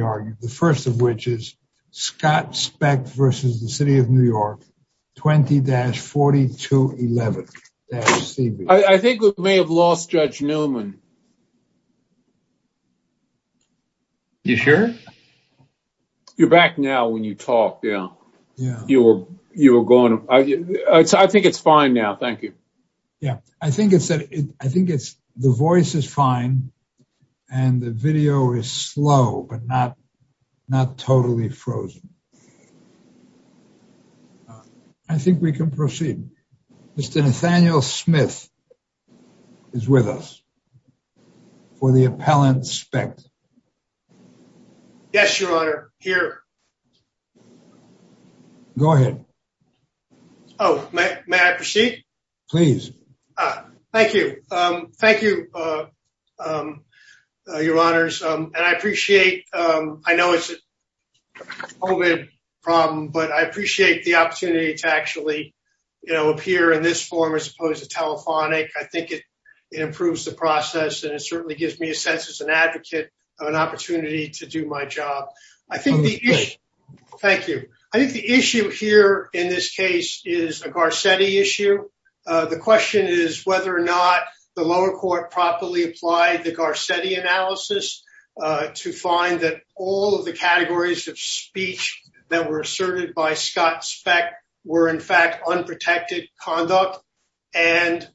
argued, the first of which is Scott Specht v. The City of New York, 20-4211-CB. I think we may have lost Judge Newman. You sure? You're back now when you talked, yeah. Yeah. You were going, I think it's fine now, thank you. Yeah, I think it's, the voice is fine and the video is slow, but not totally frozen. I think we can proceed. Mr. Nathaniel Smith is with us for the appellant, Specht. Yes, Your Honor, here. Go ahead. Oh, may I proceed? Please. Thank you. Thank you, Your Honors. And I appreciate, I know it's a COVID problem, but I appreciate the opportunity to actually appear in this form as opposed to telephonic. I think it improves the process and it certainly gives me a sense as an advocate of an opportunity to do my job. Thank you. I think the issue here in this case is a Garcetti issue. The question is whether or not the lower court properly applied the Garcetti analysis to find that all of the categories of speech that were asserted by Scott Specht were in fact unprotected conduct. And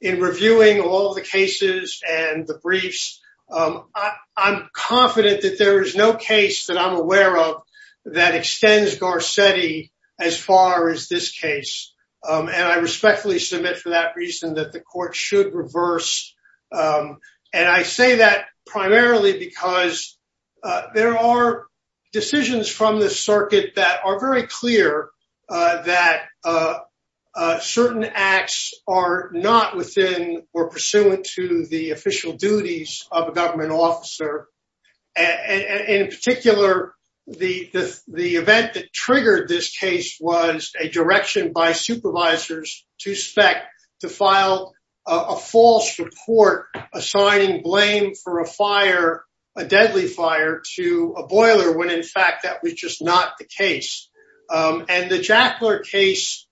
in reviewing all the cases and the briefs, I'm confident that there is no case that I'm aware of that extends Garcetti as far as this case. And I respectfully submit for that reason that the court should reverse. And I say that primarily because there are decisions from the circuit that are very clear that certain acts are not within or pursuant to the official duties of a government officer. And in particular, the event that triggered this case was a direction by supervisors to Specht to file a false report assigning blame for a fire, a deadly fire to a boiler, when in fact that was just not the case. And the Jackler case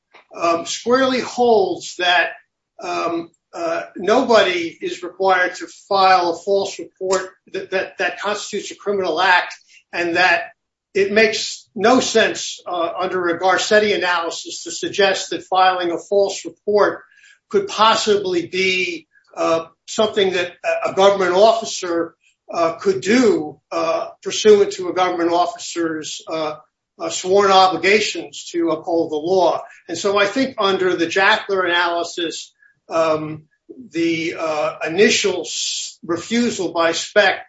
squarely holds that nobody is required to file a false report that constitutes a criminal act. And that it makes no sense under a Garcetti analysis to suggest that filing a false report could possibly be something that a government officer could do pursuant to a government officer's sworn obligations to uphold the law. And so I think under the Jackler analysis, the initial refusal by Specht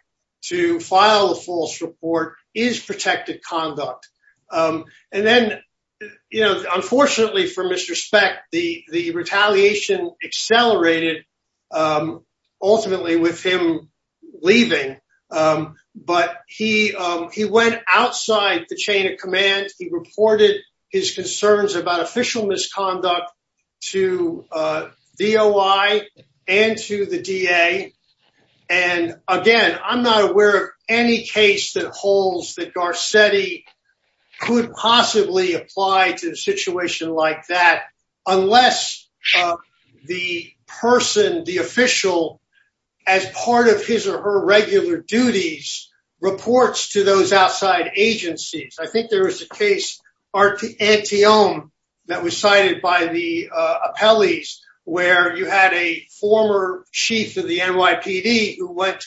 to file a false report is protected conduct. And then, unfortunately for Mr. Specht, the retaliation accelerated ultimately with him leaving, but he went outside the chain of command. He reported his concerns about official misconduct to DOI and to the DA. And again, I'm not aware of any case that holds that Garcetti could possibly apply to a situation like that unless the person, the official, as part of his or her regular duties reports to those outside agencies. I think there was a case, Anteome, that was cited by the appellees where you had a former chief of the NYPD who went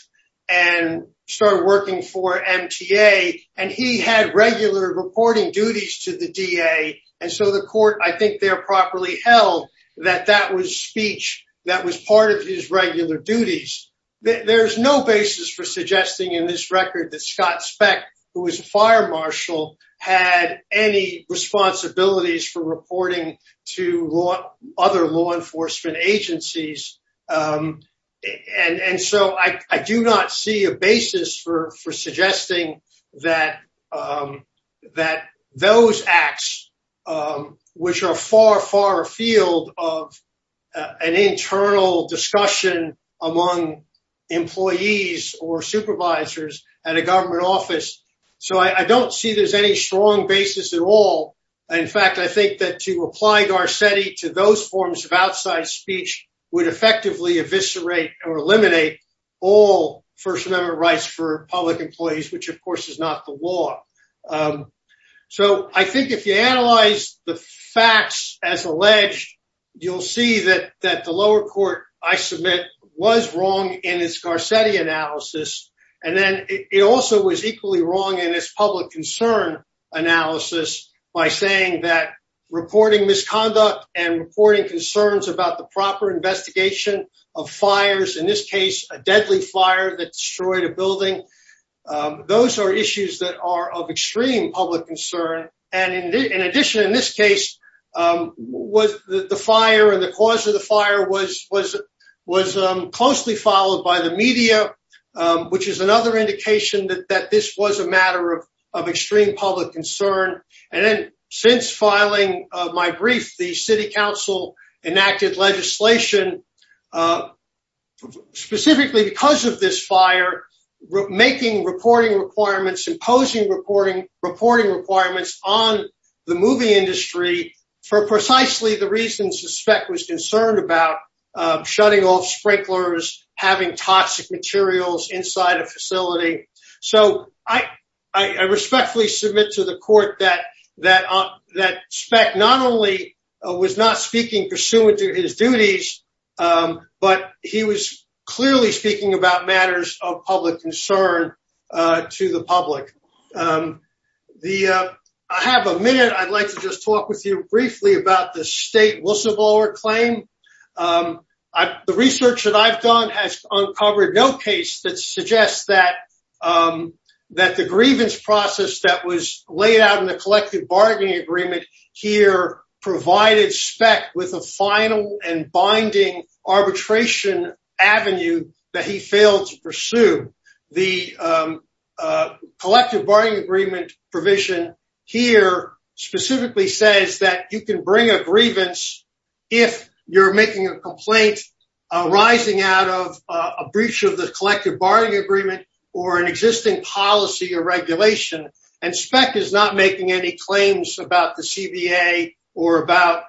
and started working for MTA and he had regular reporting duties to the DA. And so the court, I think there properly held that that was speech that was part of his regular duties. There's no basis for suggesting in this record that Scott Specht, who was a fire marshal, had any responsibilities for reporting to other law enforcement agencies. And so I do not see a basis for suggesting that those acts, which are far, far afield of an internal discussion among employees or supervisors at a government office. So I don't see there's any strong basis at all. In fact, I think that to apply Garcetti to those forms of outside speech would effectively eviscerate or eliminate all First Amendment rights for public employees, which of course is not the law. So I think if you analyze the facts as alleged, you'll see that the lower court I submit was wrong in its Garcetti analysis. And then it also was equally wrong in its public concern analysis by saying that reporting misconduct and reporting concerns about the proper investigation of fires, in this case a deadly fire that destroyed a building. Those are issues that are of extreme public concern. And in addition, in this case, the fire and the cause of the fire was closely followed by the media, which is another indication that this was a matter of extreme public concern. And then since filing my brief, the city council enacted legislation specifically because of this fire, making reporting requirements, imposing reporting requirements on the movie industry for precisely the reasons suspect was concerned about, shutting off sprinklers, having toxic materials inside a facility. So I respectfully submit to the court that Speck not only was not speaking pursuant to his duties, but he was clearly speaking about matters of public concern to the public. I have a minute. I'd like to just talk with you briefly about the state whistleblower claim. The research that I've done has uncovered no case that suggests that the grievance process that was laid out in the collective bargaining agreement here provided Speck with a final and binding arbitration avenue that he failed to pursue. The collective bargaining agreement provision here specifically says that you can bring a grievance if you're making a complaint arising out of a breach of the collective bargaining agreement or an existing policy or regulation. And Speck is not making any claims about the CBA or about,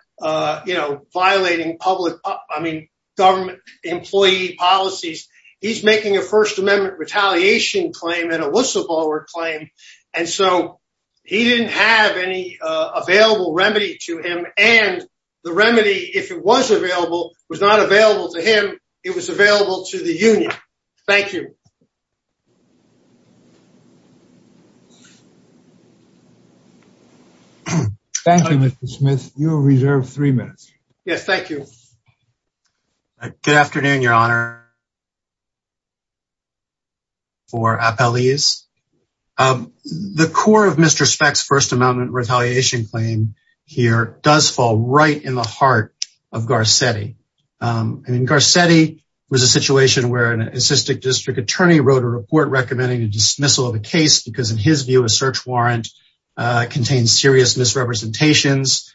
you know, violating public, I mean, government employee policies. He's making a first amendment retaliation claim and a whistleblower claim. And so he didn't have any available remedy to him. And the remedy, if it was available, was not available to him. It was available to the union. Thank you. Thank you, Mr. Smith. You are reserved three minutes. Yes, thank you. Good afternoon, Your Honor. For Appellees, the core of Mr. Speck's first amendment retaliation claim here does fall right in the heart of Garcetti. And Garcetti was a situation where an assistant district attorney wrote a report recommending a dismissal of a case because, in his view, a search warrant contains serious misrepresentations.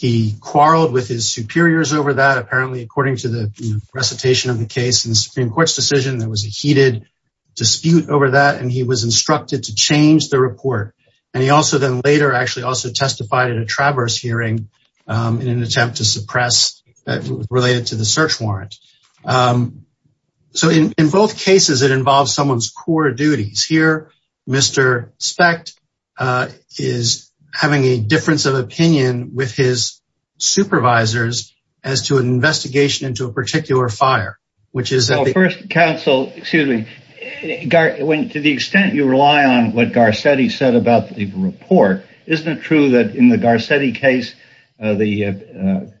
He quarreled with his superiors over that, apparently, according to the recitation of the case. In the Supreme Court's decision, there was a heated dispute over that, and he was instructed to change the report. And he also then later actually also testified at a traverse hearing in an attempt to suppress related to the search warrant. So in both cases, it involves someone's core duties. Here, Mr. Speck is having a difference of opinion with his supervisors as to an investigation into a particular fire, which is- Well, first, counsel, excuse me. To the extent you rely on what Garcetti said about the report, isn't it true that in the Garcetti case, the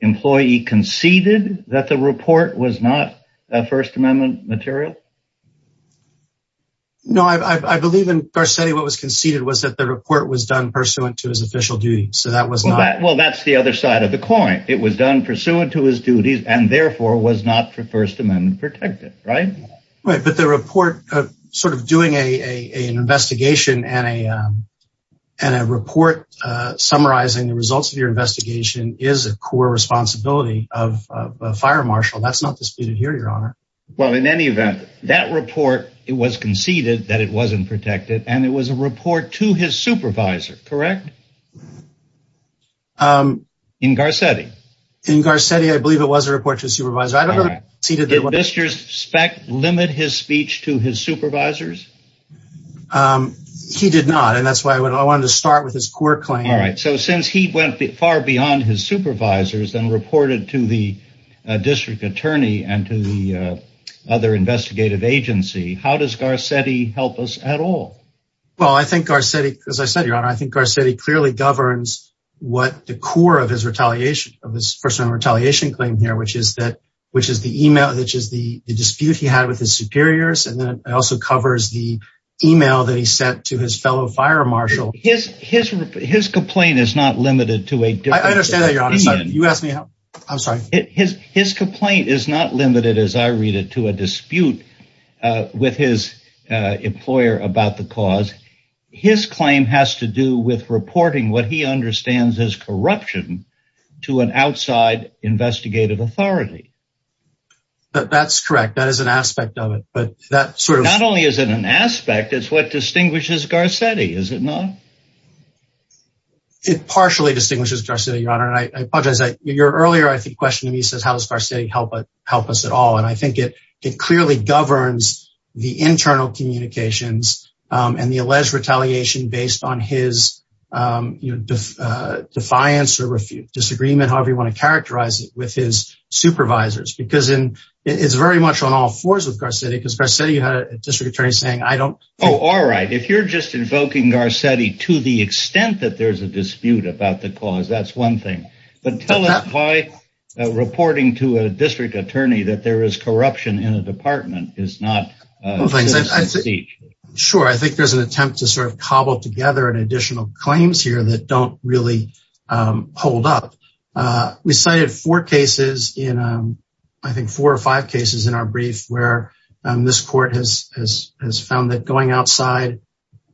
employee conceded that the report was not a First Amendment material? No, I believe in Garcetti, what was conceded was that the report was done pursuant to his official duty. So that was not- Well, that's the other side of the coin. It was done pursuant to his duties and therefore was not First Amendment protected, right? Right. But the report sort of doing an investigation and a report summarizing the results of your investigation is a core responsibility of a fire marshal. That's not disputed here, Your Honor. Well, in any event, that report, it was conceded that it wasn't protected, and it was a report to his supervisor, correct? In Garcetti. In Garcetti, I believe it was a report to his supervisor. I don't know if he conceded that- Did Mr. Speck limit his speech to his supervisors? He did not, and that's why I wanted to start with his court claim. All right. So since he went far beyond his supervisors and reported to the district attorney and to the other investigative agency, how does Garcetti help us at all? Well, I think Garcetti, as I said, Your Honor, I think Garcetti created the report that clearly governs what the core of his first-time retaliation claim here, which is the email, which is the dispute he had with his superiors. And then it also covers the email that he sent to his fellow fire marshal. His complaint is not limited to a different- I understand that, Your Honor. You asked me how- I'm sorry. His complaint is not limited, as I read it, to a dispute with his employer about the cause. His claim has to do with reporting what he understands as corruption to an outside investigative authority. That's correct. That is an aspect of it, but that sort of- Not only is it an aspect, it's what distinguishes Garcetti, is it not? It partially distinguishes Garcetti, Your Honor, and I apologize. Your earlier, I think, question to me says, how does Garcetti help us at all? I think it clearly governs the internal communications and the alleged retaliation based on his defiance or disagreement, however you want to characterize it, with his supervisors. Because it's very much on all fours with Garcetti, because Garcetti had a district attorney saying, I don't- Oh, all right. If you're just invoking Garcetti to the extent that there's a dispute about the cause, that's one thing. Tell us why reporting to a district attorney that there is corruption in a department is not- Sure, I think there's an attempt to sort of cobble together an additional claims here that don't really hold up. We cited four cases in, I think, four or five cases in our brief, where this court has found that going outside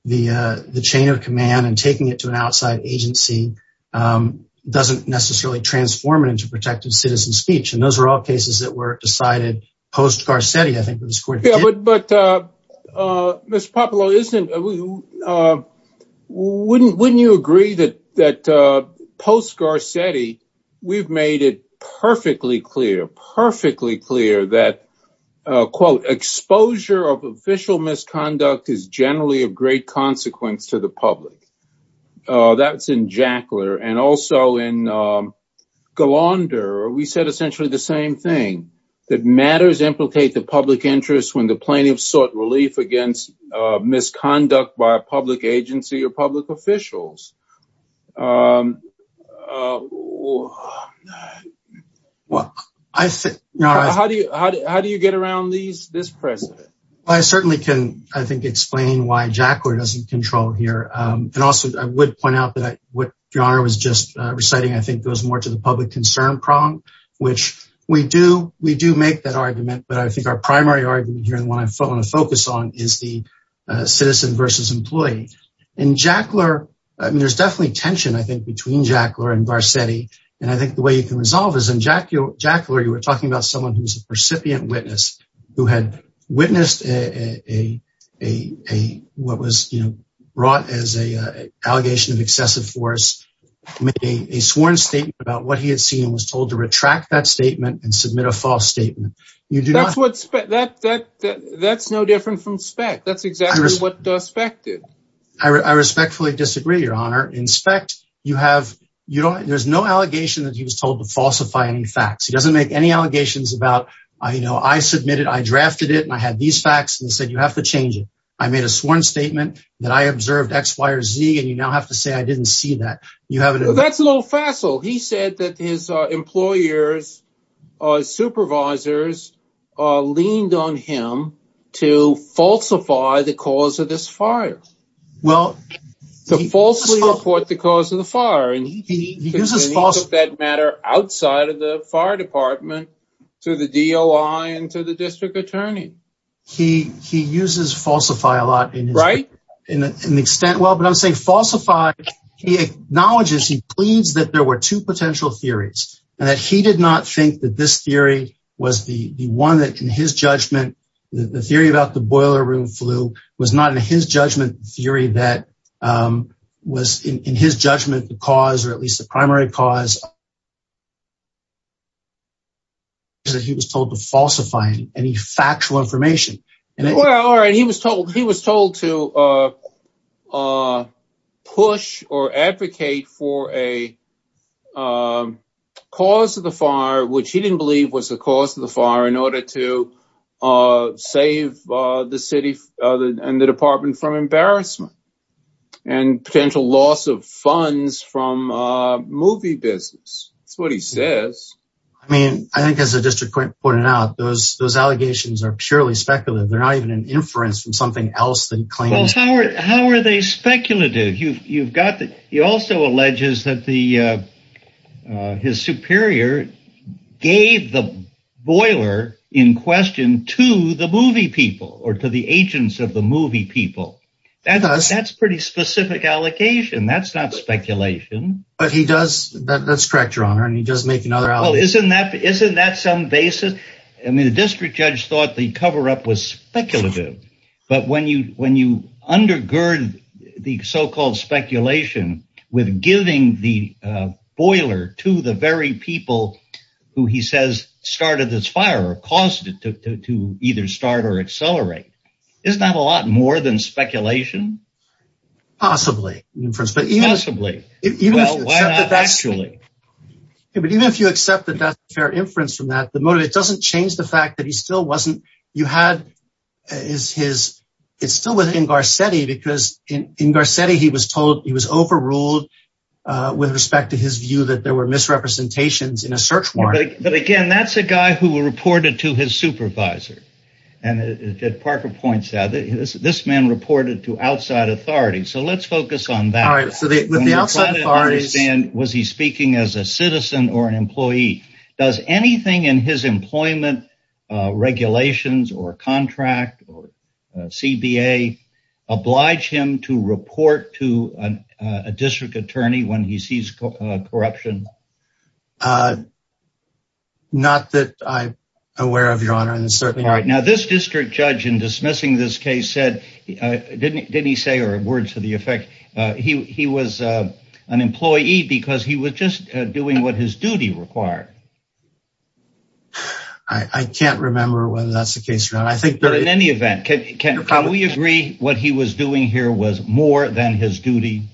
the chain of command and taking it to an outside agency doesn't necessarily transform it into protective citizen speech. And those are all cases that were decided post-Garcetti, I think, that this court did. But, Mr. Popolo, wouldn't you agree that post-Garcetti, we've made it perfectly clear, perfectly clear that, quote, exposure of official misconduct is generally a great consequence to the public? That's in Jackler. And also in Galander, we said essentially the same thing, that matters implicate the public interest when the plaintiff sought relief against misconduct by a public agency or public officials. How do you get around this precedent? Well, I certainly can, I think, explain why Jackler doesn't control here. And also, I would point out that what Your Honor was just reciting, I think, goes more to the public concern prong, which we do make that argument. But I think our primary argument here, and what I want to focus on, is the citizen versus employee. In Jackler, there's definitely tension, I think, between Jackler and Garcetti. And I think the way you can resolve is in Jackler, you were talking about someone who's a recipient witness, who had witnessed what was brought as an allegation of excessive force, made a sworn statement about what he had seen, and was told to retract that statement and submit a false statement. That's no different from Speck. That's exactly what Speck did. I respectfully disagree, Your Honor. In Speck, there's no allegation that he was told to falsify any facts. He doesn't make any allegations about, you know, I submitted, I drafted it, and I had these facts and said, you have to change it. I made a sworn statement that I observed X, Y, or Z, and you now have to say I didn't see that. That's a little facile. He said that his employers, his supervisors, leaned on him to falsify the cause of this fire. Well, to falsely report the cause of the fire. And he took that matter outside of the fire department, to the DOI and to the district attorney. He uses falsify a lot in an extent. Well, but I'm saying falsify, he acknowledges, he pleads that there were two potential theories, and that he did not think that this theory was the one that, in his judgment, the theory about the boiler room flu was not, in his judgment, theory that was, in his judgment, the cause or at least the primary cause is that he was told to falsify any factual information. And he was told to push or advocate for a cause of the fire, which he didn't believe was the cause of the fire, in order to save the city and the department from embarrassment and potential loss of funds from movie business. That's what he says. I mean, I think as the district court pointed out, those allegations are purely speculative. They're not even an inference from something else than claims. Well, how are they speculative? You've got, he also alleges that his superior gave the boiler in question to the movie people or to the agents of the movie people. That's pretty specific allocation. That's not speculation. But he does, that's correct, your honor. And he does make another allegation. Well, isn't that some basis? I mean, the district judge thought the cover-up was speculative. But when you undergird the so-called speculation with giving the boiler to the very people who he says started this fire or caused it to either start or accelerate, isn't that a lot more than speculation? Possibly. But even if you accept that that's a fair inference from that, the motive, it doesn't change the fact that he still wasn't, you had his, it's still within Garcetti because in Garcetti, he was told he was overruled with respect to his view that there were misrepresentations in a search warrant. But again, that's a guy who reported to his supervisor. And Parker points out that this man reported to outside authority. So let's focus on that. All right. Was he speaking as a citizen or an employee? Does anything in his employment regulations or contract or CBA oblige him to report to a district attorney when he sees corruption? Not that I'm aware of, Your Honor. Now, this district judge in dismissing this case said, didn't he say, or words to the effect, he was an employee because he was just doing what his duty required. I can't remember whether that's the case or not. I think that in any event, can we agree what he was doing here was more than his duty?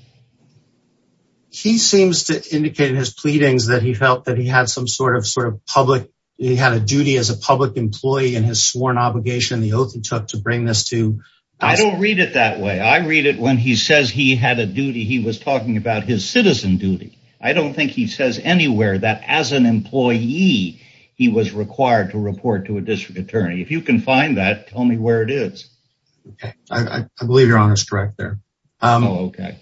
He seems to indicate in his pleadings that he felt that he had some sort of public, he had a duty as a public employee and his sworn obligation, the oath he took to bring this to. I don't read it that way. I read it when he says he had a duty, he was talking about his citizen duty. I don't think he says anywhere that as an employee, he was required to report to a district attorney. If you can find that, tell me where it is. I believe Your Honor is correct there. Oh, okay.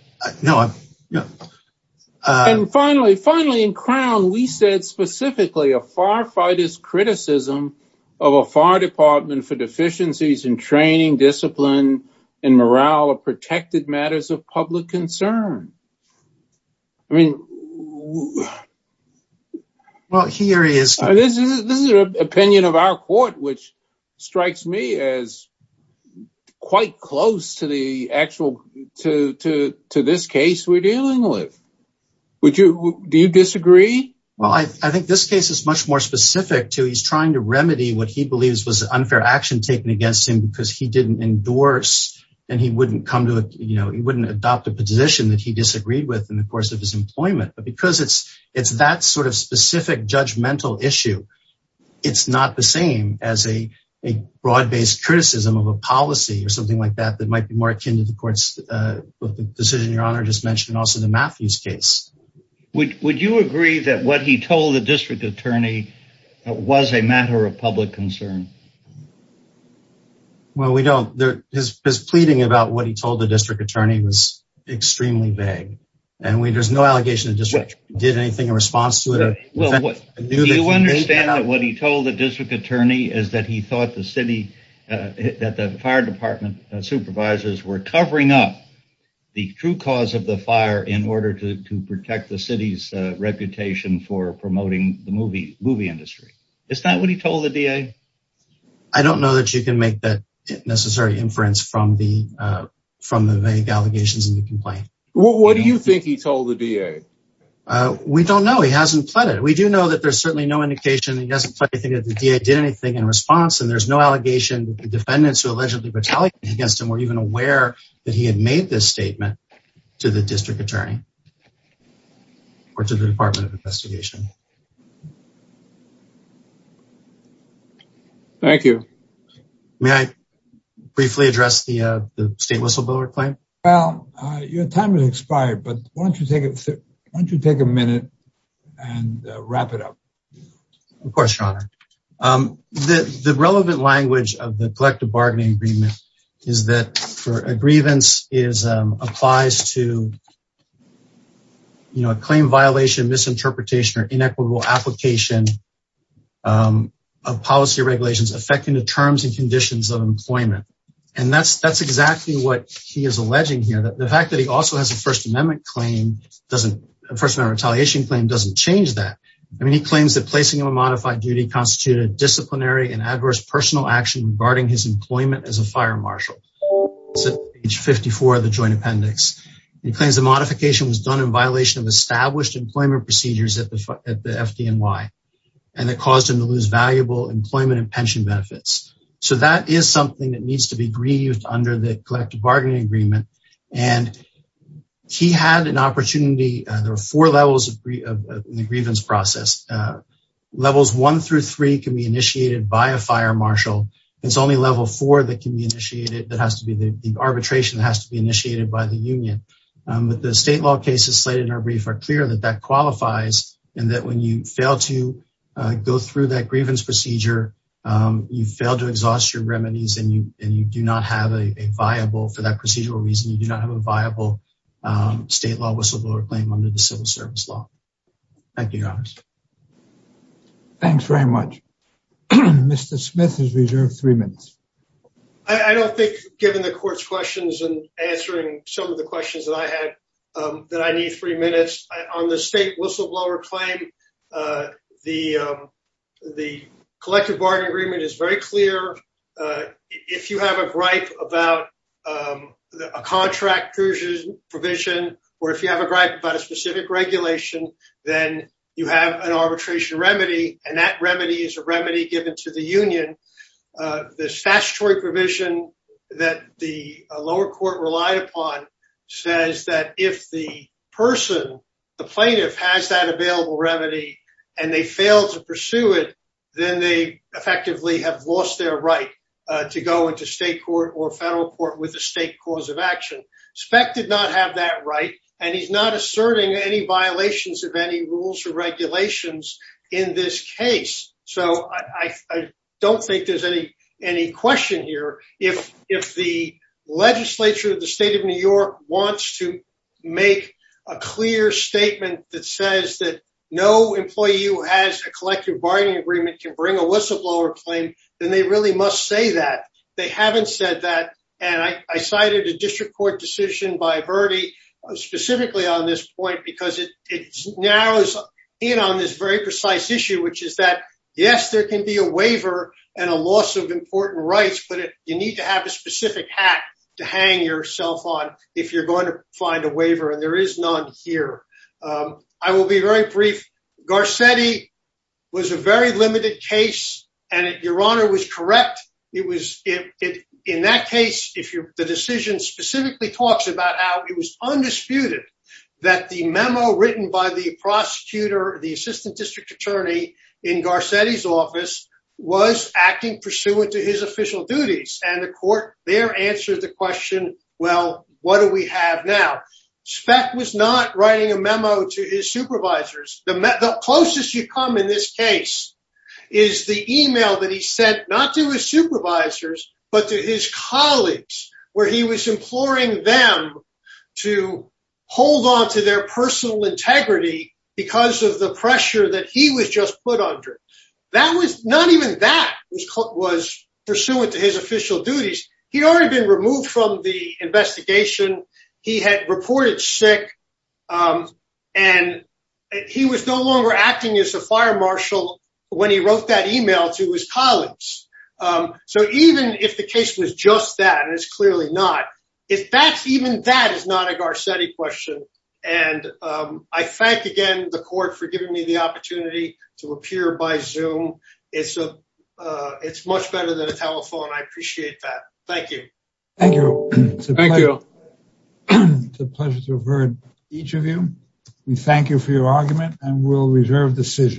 And finally, finally in Crown, we said specifically a firefighter's criticism of a fire department for deficiencies in training, discipline, and morale of protected matters of public concern. I mean, well, here he is, this is an opinion of our court, which strikes me as quite close to the actual, to this case we're dealing with. Would you, do you disagree? Well, I think this case is much more specific to, he's trying to remedy what he believes was unfair action taken against him because he didn't endorse and he wouldn't come to, he wouldn't adopt a position that he disagreed with in the course of his employment. But because it's that sort of specific judgmental issue, it's not the same as a broad-based criticism of a policy or something like that, that might be more akin to the court's decision Your Honor just mentioned, also the Matthews case. Would you agree that what he told the district attorney was a matter of public concern? Well, we don't. His pleading about what he told the district attorney was extremely vague, and there's no allegation the district did anything in response to it. Do you understand that what he told the district attorney is that he thought the city, that the fire department supervisors were covering up the true cause of the fire in order to protect the city's reputation for promoting the movie industry? Is that what he told the DA? I don't know that you can make that necessary inference from the vague allegations in the complaint. What do you think he told the DA? We don't know, he hasn't pleaded. We do know that there's certainly no indication, he doesn't think that the DA did anything in response, and there's no allegation that the defendants who allegedly retaliated against him were even aware that he had made this statement to the district attorney or to the Department of Investigation. Thank you. May I briefly address the state whistleblower claim? Well, your time has expired, but why don't you take a minute and wrap it up? Of course, your honor. The relevant language of the collective bargaining agreement is that a grievance applies to a claim violation, misinterpretation, or inequitable application of policy regulations affecting the terms and conditions of employment. And that's exactly what he is alleging here. The fact that he also has a First Amendment claim, a First Amendment retaliation claim, doesn't change that. I mean, he claims that placing him on modified duty constituted disciplinary and adverse personal action regarding his employment as a fire marshal. It's at page 54 of the joint appendix. He claims the modification was done in violation of established employment procedures at the FDNY. And it caused him to lose valuable employment and pension benefits. So that is something that needs to be grieved under the collective bargaining agreement. And he had an opportunity. There are four levels of the grievance process. Levels one through three can be initiated by a fire marshal. It's only level four that can be initiated. That has to be the arbitration that has to be initiated by the union. But the state law cases slated in our brief are clear that that qualifies. And that when you fail to go through that grievance procedure, you fail to exhaust your remedies. And you do not have a viable, for that procedural reason, you do not have a viable state law whistleblower claim under the civil service law. Thank you, Your Honor. Thanks very much. Mr. Smith is reserved three minutes. I don't think, given the court's questions and answering some of the questions that I had, that I need three minutes. On the state whistleblower claim, the collective bargaining agreement is very clear. If you have a gripe about a contract provision, or if you have a gripe about a specific regulation, then you have an arbitration remedy. And that remedy is a remedy given to the union. The statutory provision that the lower court relied upon says that if the person, the plaintiff has that available remedy, and they fail to pursue it, then they effectively have lost their right to go into state court or federal court with a state cause of action. Speck did not have that right. And he's not asserting any violations of any rules or regulations in this case. So I don't think there's any question here. If the legislature of the state of New York wants to make a clear statement that says that no employee who has a collective bargaining agreement can bring a whistleblower claim, then they really must say that. They haven't said that. And I cited a district court decision by Verdi, specifically on this point, because it narrows in on this very precise issue, which is that, yes, there can be a waiver and a loss of important rights, but you need to have a specific hat to hang yourself on if you're going to find a waiver. And there is none here. I will be very brief. Garcetti was a very limited case. And your honor was correct. It was in that case, if the decision specifically talks about how it was undisputed that the memo written by the prosecutor, the assistant district attorney in Garcetti's office was acting pursuant to his official duties and the court there answered the question, well, what do we have now? Speck was not writing a memo to his supervisors. The closest you come in this case is the email that he sent, not to his supervisors, but to his colleagues, where he was imploring them to hold on to their personal integrity because of the pressure that he was just put under. That was not even that was pursuant to his official duties. He'd already been removed from the investigation. He had reported sick. And he was no longer acting as a fire marshal when he wrote that email to his colleagues. So even if the case was just that, and it's clearly not, if that's even that is not a Garcetti question. And I thank again the court for giving me the opportunity to appear by Zoom. It's much better than a telephone. I appreciate that. Thank you. Thank you. It's a pleasure to have heard each of you. We thank you for your argument and we'll reserve decisions.